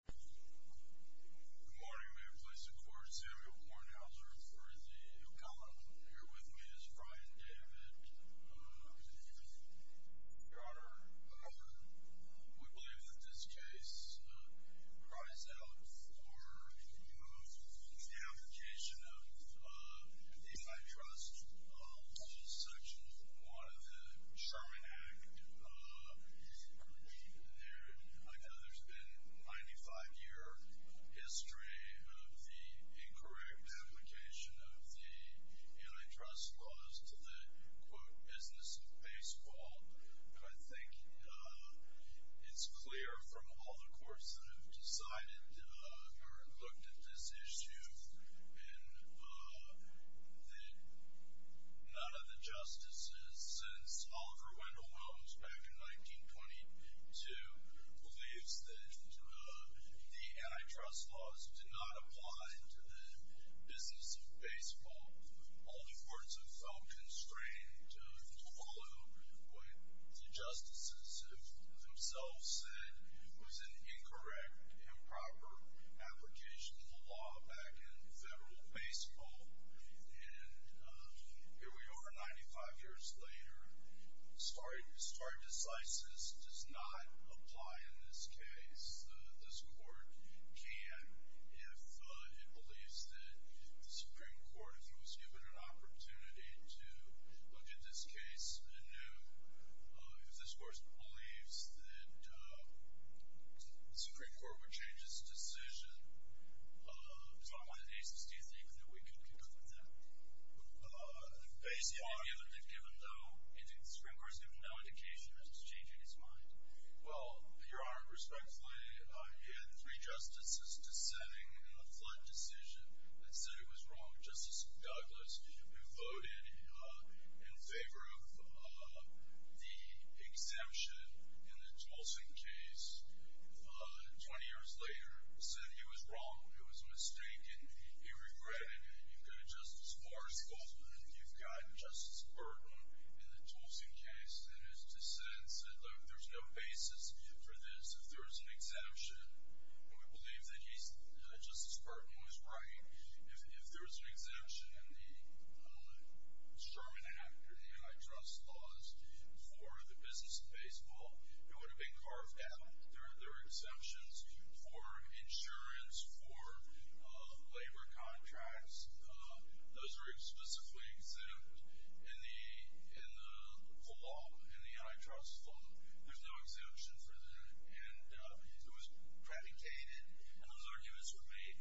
Good morning. May it please the court, Samuel Kornhauser for the accountable. Here with me is Brian David. Your Honor, we believe that this case cries out for the application of the If I Trust section 1 of the Sherman Act. I know there's been a 95-year history of the incorrect application of the antitrust laws to the, quote, business of baseball. And I think it's clear from all the courts that have decided or looked at this issue and that none of the justices since Oliver Wendell Williams back in 1922 believes that the antitrust laws did not apply to the business of baseball. All the courts have felt constrained to follow what the justices themselves said was an incorrect, improper application of the law back in federal baseball. And here we are 95 years later. Star Decisis does not apply in this case. This court can if it believes that the Supreme Court, if it was given an opportunity to look at this case anew, if this court believes that the Supreme Court would change its decision. So I'm going to ask, do you think that we could conclude that? The Supreme Court has given no indication that it's changing its mind. Well, Your Honor, respectfully, you had three justices dissenting in the flood decision that said it was wrong. Justice Douglas, who voted in favor of the exemption in the Tolson case 20 years later, said he was wrong. It was a mistake, and he regretted it. You've got a Justice Marshall, and you've got Justice Burton in the Tolson case that has dissented, said, look, there's no basis for this if there's an exemption. And we believe that Justice Burton was right. If there was an exemption in the Sherman Act or the antitrust laws for the business of baseball, it would have been carved out. There are exemptions for insurance, for labor contracts. Those are explicitly exempt in the law, in the antitrust law. There's no exemption for that. And it was predicated, and those arguments were made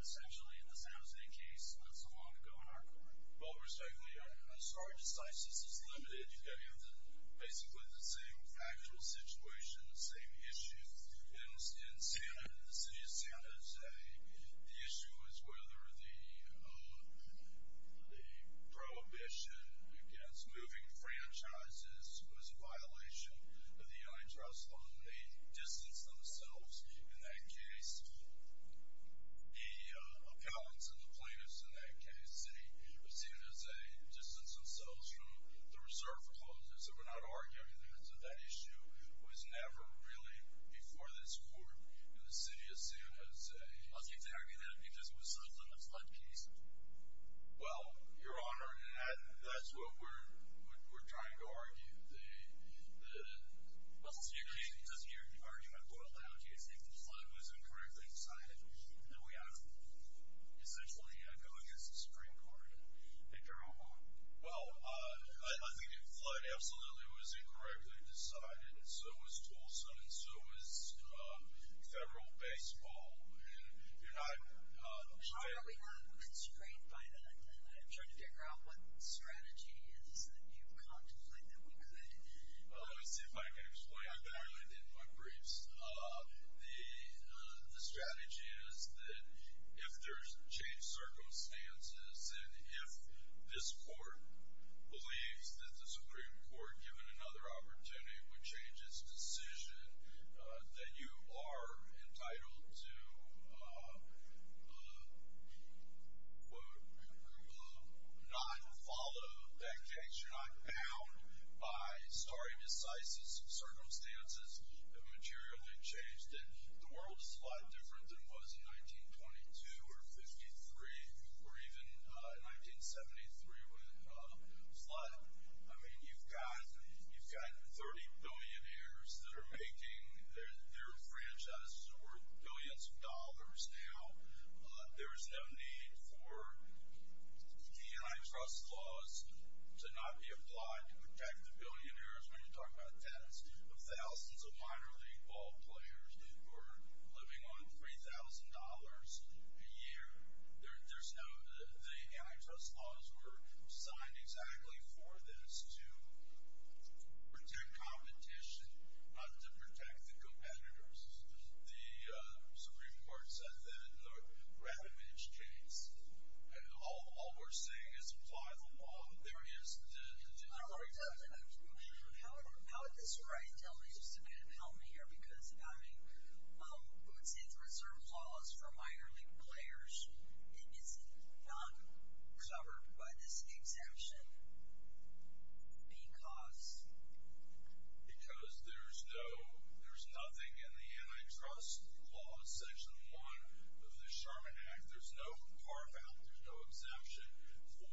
essentially in the San Jose case not so long ago in our court. Well, respectfully, Your Honor, I'm sorry to say since this is limited, you've got to answer basically the same actual situation, the same issue. In San Jose, the issue was whether the prohibition against moving franchises was a violation of the antitrust law. And they distanced themselves in that case. The accountants and the plaintiffs in that case, the city of San Jose, distanced themselves from the reserve clauses. And we're not arguing that that issue was never really before this court in the city of San Jose. Are you telling me that because it was such a misled case? Well, Your Honor, that's what we're trying to argue. Well, so you're arguing my point loud. You're saying the flood was incorrectly decided, and that we ought to essentially go against the Supreme Court and pick our own law. Well, I think the flood absolutely was incorrectly decided, and so was Tulsa, and so was federal baseball. And I'm trying to figure out what strategy is that you contemplate Let's see if I can explain that. I did my briefs. The strategy is that if there's changed circumstances, and if this court believes that the Supreme Court, given another opportunity, would change its decision, that you are entitled to not follow that case. You're not bound by stare decisis, circumstances that materially changed it. The world is a lot different than it was in 1922 or 53, or even in 1973 with the flood. I mean, you've got 30 billionaires that are making their franchises worth billions of dollars now. There's no need for the antitrust laws to not be applied to protect the billionaires. I mean, you're talking about tens of thousands of minor league ball players who are living on $3,000 a year. There's no, the antitrust laws were signed exactly for this, to protect competition, not to protect the competitors. The Supreme Court said that in the Ravitch case, and all we're saying is apply the law. There is no reason to do that. I don't know what you're talking about. I'm not sure. How would this right tell me, just to kind of help me here, because, I mean, Bootsie's reserve laws for minor league players is not covered by this exemption because? Because there's no, there's nothing in the antitrust laws, Section 1 of the Sherman Act, there's no carve out, there's no exemption for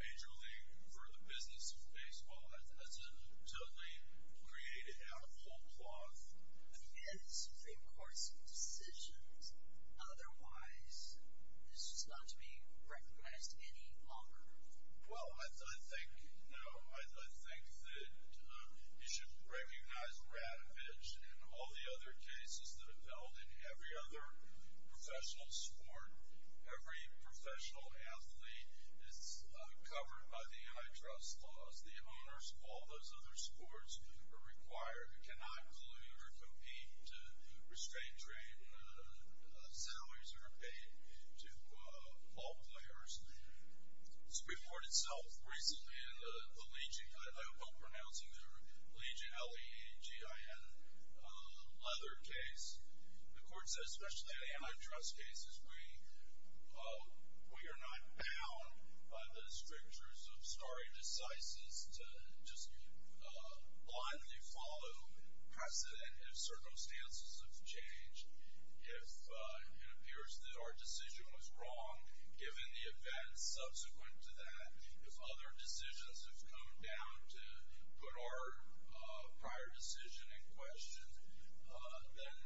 major league, for the business of baseball. That's a totally created out of whole cloth. I mean, and this was a court's decision. Otherwise, this was not to be recognized any longer. Well, I think, no, I think that you should recognize Ravitch and all the other cases that have failed in every other professional sport. Every professional athlete is covered by the antitrust laws. The owners of all those other sports are required, cannot collude or compete to restrain trade. Salaries are paid to all players. This was reported itself recently in the Legion, I hope I'm pronouncing it right, Legion, L-E-G-I-N, leather case. The court said, especially in antitrust cases, we are not bound by the strictures of stare decisis to just blindly follow precedent. If circumstances have changed, if it appears that our decision was wrong, given the events subsequent to that, if other decisions have come down to put our prior decision in question, then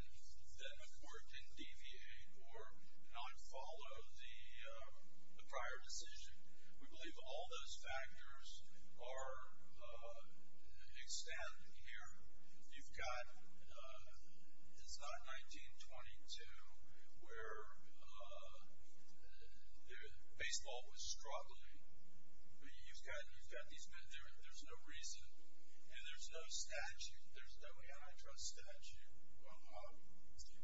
the court didn't deviate or not follow the prior decision. We believe all those factors are extended here. You've got, it's not 1922 where baseball was struggling. You've got these men, there's no reason, and there's no statute, there's no antitrust statute.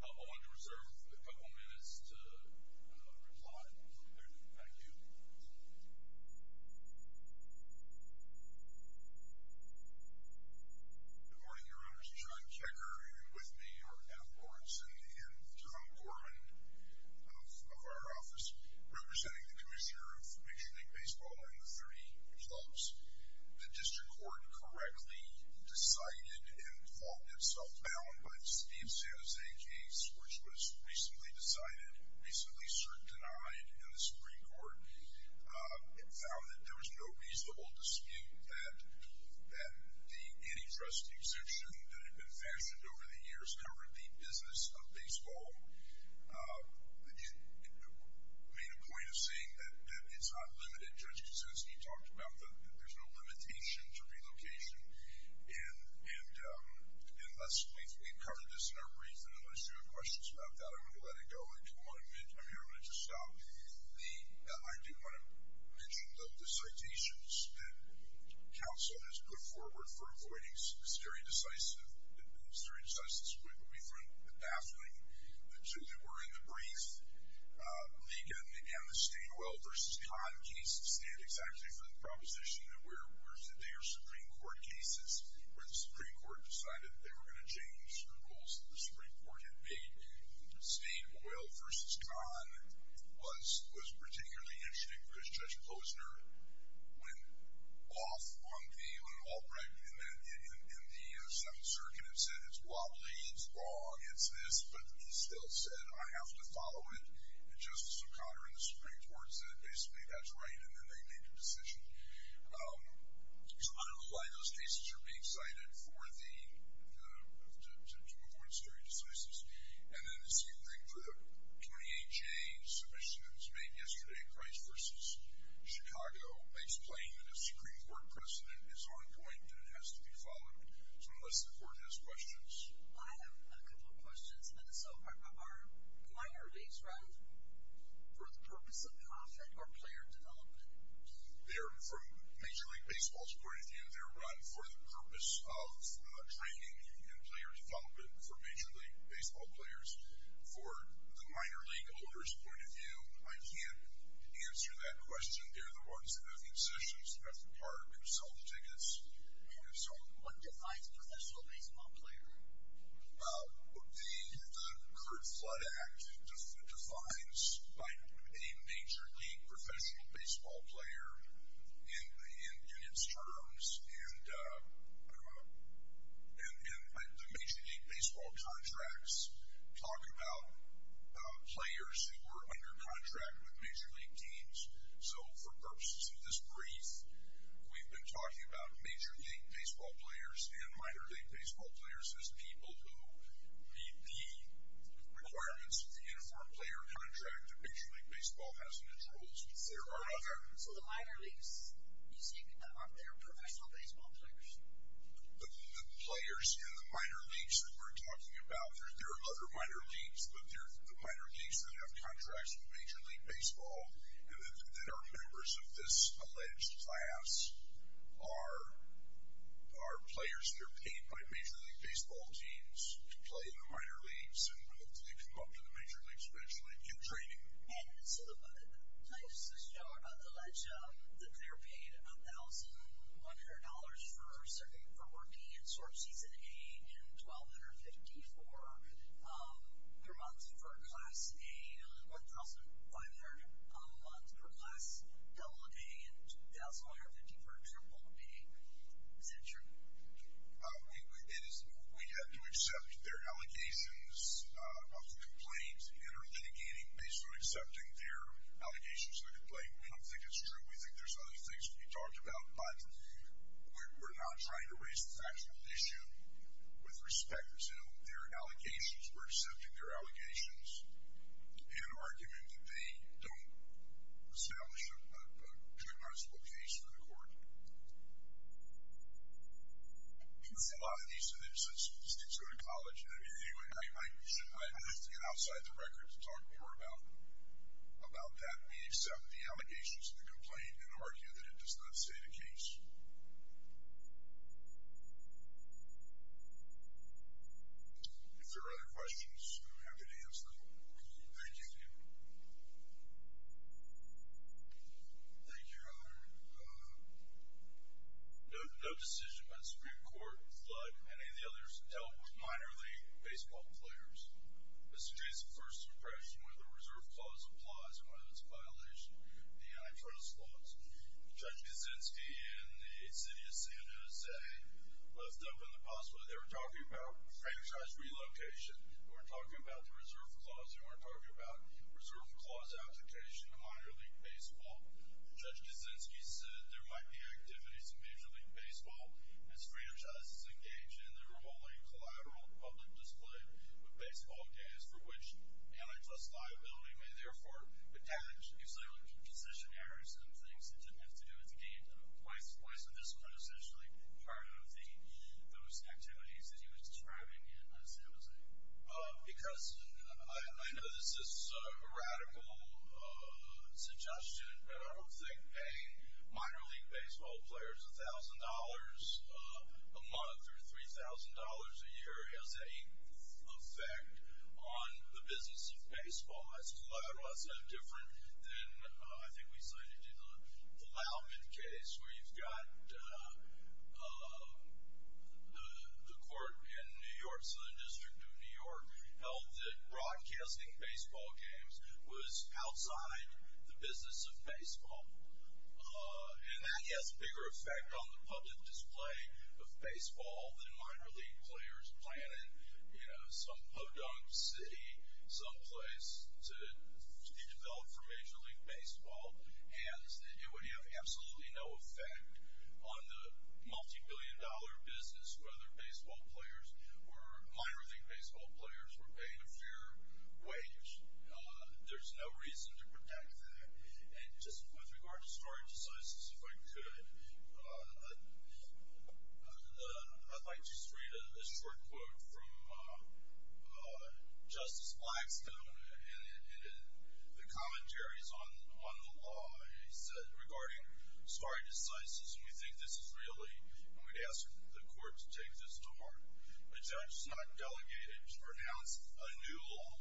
I'll want to reserve a couple minutes to reply. Thank you. Good morning, Your Honors. John Kekker, and with me are Adam Orenson and John Gorman of our office, representing the commissioner of Michigan League Baseball and the three clubs. The district court correctly decided and called itself bound by the Steve San Jose case, which was recently decided, recently certain denied in the Supreme Court. It found that there was no reasonable dispute that the antitrust exemption that had been fashioned over the years covered the business of baseball. It made a point of saying that it's unlimited. Judge Kuczynski talked about that there's no limitation to relocation. And let's briefly cover this in our brief. And unless you have questions about that, I'm going to let it go. I do want to mention, I'm here, I'm going to just stop. I do want to mention the citations that counsel has put forward for avoiding some of the stereo-decisive. And the stereo-decisive is going to be from the afternoon, the two that were in the brief. Megan and the State Oil versus Con case stand exactly for the proposition that they are Supreme Court cases where the Supreme Court decided they were going to change the rules that the Supreme Court had made. State Oil versus Con was particularly interesting because Judge Posner went off one game on an all-black and then in the Seventh Circuit and said it's wobbly, it's raw, it's this. But he still said, I have to follow it. And Justice O'Connor and the Supreme Court said basically that's right and then they made the decision. So I don't know why those cases are being cited to avoid stereo-decisives. And then the same thing for the 28-J submissions made yesterday, Price versus Chicago, explain that a Supreme Court precedent is on point and it has to be followed. So unless the Court has questions. I have a couple of questions. So are minor leagues run for the purpose of profit or player development? They're from Major League Baseball's point of view. They're run for the purpose of training and player development for Major League Baseball players. For the minor league owners' point of view, I can't answer that question. They're the ones that have concessions, have to park and sell tickets. What defines a professional baseball player? The Curt Flood Act defines a Major League Professional Baseball player in its terms and the Major League Baseball contracts talk about players who were under contract with Major League teams. So for purposes of this brief, we've been talking about Major League Baseball players and Minor League Baseball players as people who meet the requirements of the uniform player contract that Major League Baseball has in its rules. So the minor leagues, you say, they're professional baseball players? The players in the minor leagues that we're talking about, there are other minor leagues, but they're the minor leagues that have contracts with Major League Baseball that are members of this alleged class, are players that are paid by Major League Baseball teams to play in the minor leagues, and they come up to the major leagues eventually. You're training them. And so the players on this show are not alleged. The player paid $1,100 for working in Sword Season A and $1,250 for their month for Class A, $1,500 a month for Class A, and $2,150 for Triple B. Is that true? We have to accept their allegations of the complaint and are litigating based on accepting their allegations of the complaint. We don't think it's true. We think there's other things to be talked about, but we're not trying to raise the factual issue with respect to their allegations. We're accepting their allegations in an argument that they don't establish a criminalizable case for the court. You must have a lot of these, and then just go to college. Anyway, I should get outside the record to talk more about that. We accept the allegations of the complaint in an argument that it does not state a case. If there are other questions, I'm happy to answer them. Thank you. Thank you. No decision by the Supreme Court, but many of the others dealt with minor league baseball players. Mr. Jason, first impression, whether the reserve clause applies or whether it's a violation of the antitrust laws. Judge Kuczynski in the city of San Jose left open the possibility they were talking about franchise relocation. They weren't talking about the reserve clause. They weren't talking about reserve clause application in minor league baseball. Judge Kuczynski said there might be activities in major league baseball as franchises engage in their only collateral public display of baseball games for which antitrust liability may, therefore, would damage UCLA position errors and things that didn't have to do with the game. Why isn't this one essentially part of those activities that he was describing in San Jose? Because I know this is a radical suggestion, but I don't think paying minor league baseball players $1,000 a month or $3,000 a year has any effect on the business of baseball. That's a lot of us. That's different than I think we cited in the Lauman case where you've got the court in New York, Southern District of New York, held that broadcasting baseball games was outside the business of baseball. And that has a bigger effect on the public display of baseball than minor league players playing in, you know, some podunk city, some place to be developed for major league baseball. And it would have absolutely no effect on the multibillion-dollar business where other minor league baseball players were paying a fair wage. There's no reason to protect that. And just with regard to scoring decisions, if I could, I'd like to just read a short quote from Justice Blackstone in the commentaries on the law. He said, regarding scoring decisions, we think this is really, and we'd ask the court to take this to heart, a judge is not delegated to pronounce a new law.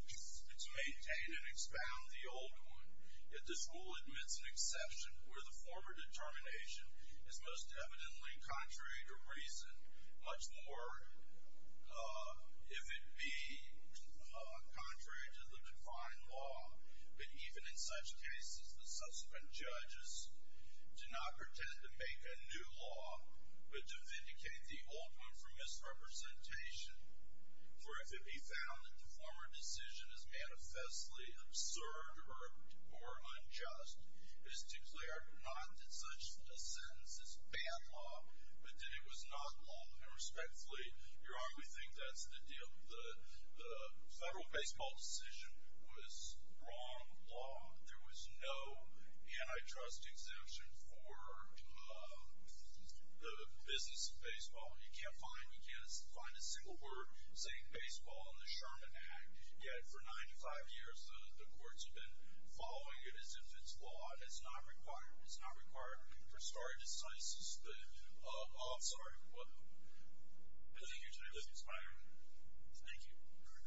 It's maintained and expound the old one. Yet this rule admits an exception where the former determination is most evidently contrary to reason, much more if it be contrary to the defined law. But even in such cases, the subsequent judges do not pretend to make a new law, but to vindicate the old one for misrepresentation. For if it be found that the former decision is manifestly absurd or unjust, it is to declare not that such a sentence is bad law, but that it was not law. And respectfully, Your Honor, we think that's the deal. The federal baseball decision was wrong law. There was no antitrust exemption for the business of baseball. You can't find a single word saying baseball in the Sherman Act. Yet for 95 years, the courts have been following it as if it's law. It's not required. It's not required for scoring decisions. I'm sorry. What? Thank you, Your Honor. That's fine. Thank you. All right. Thank you, Your Honor. I was going to say, I don't know. We think that the case is certainly submitted for decision. Thank you.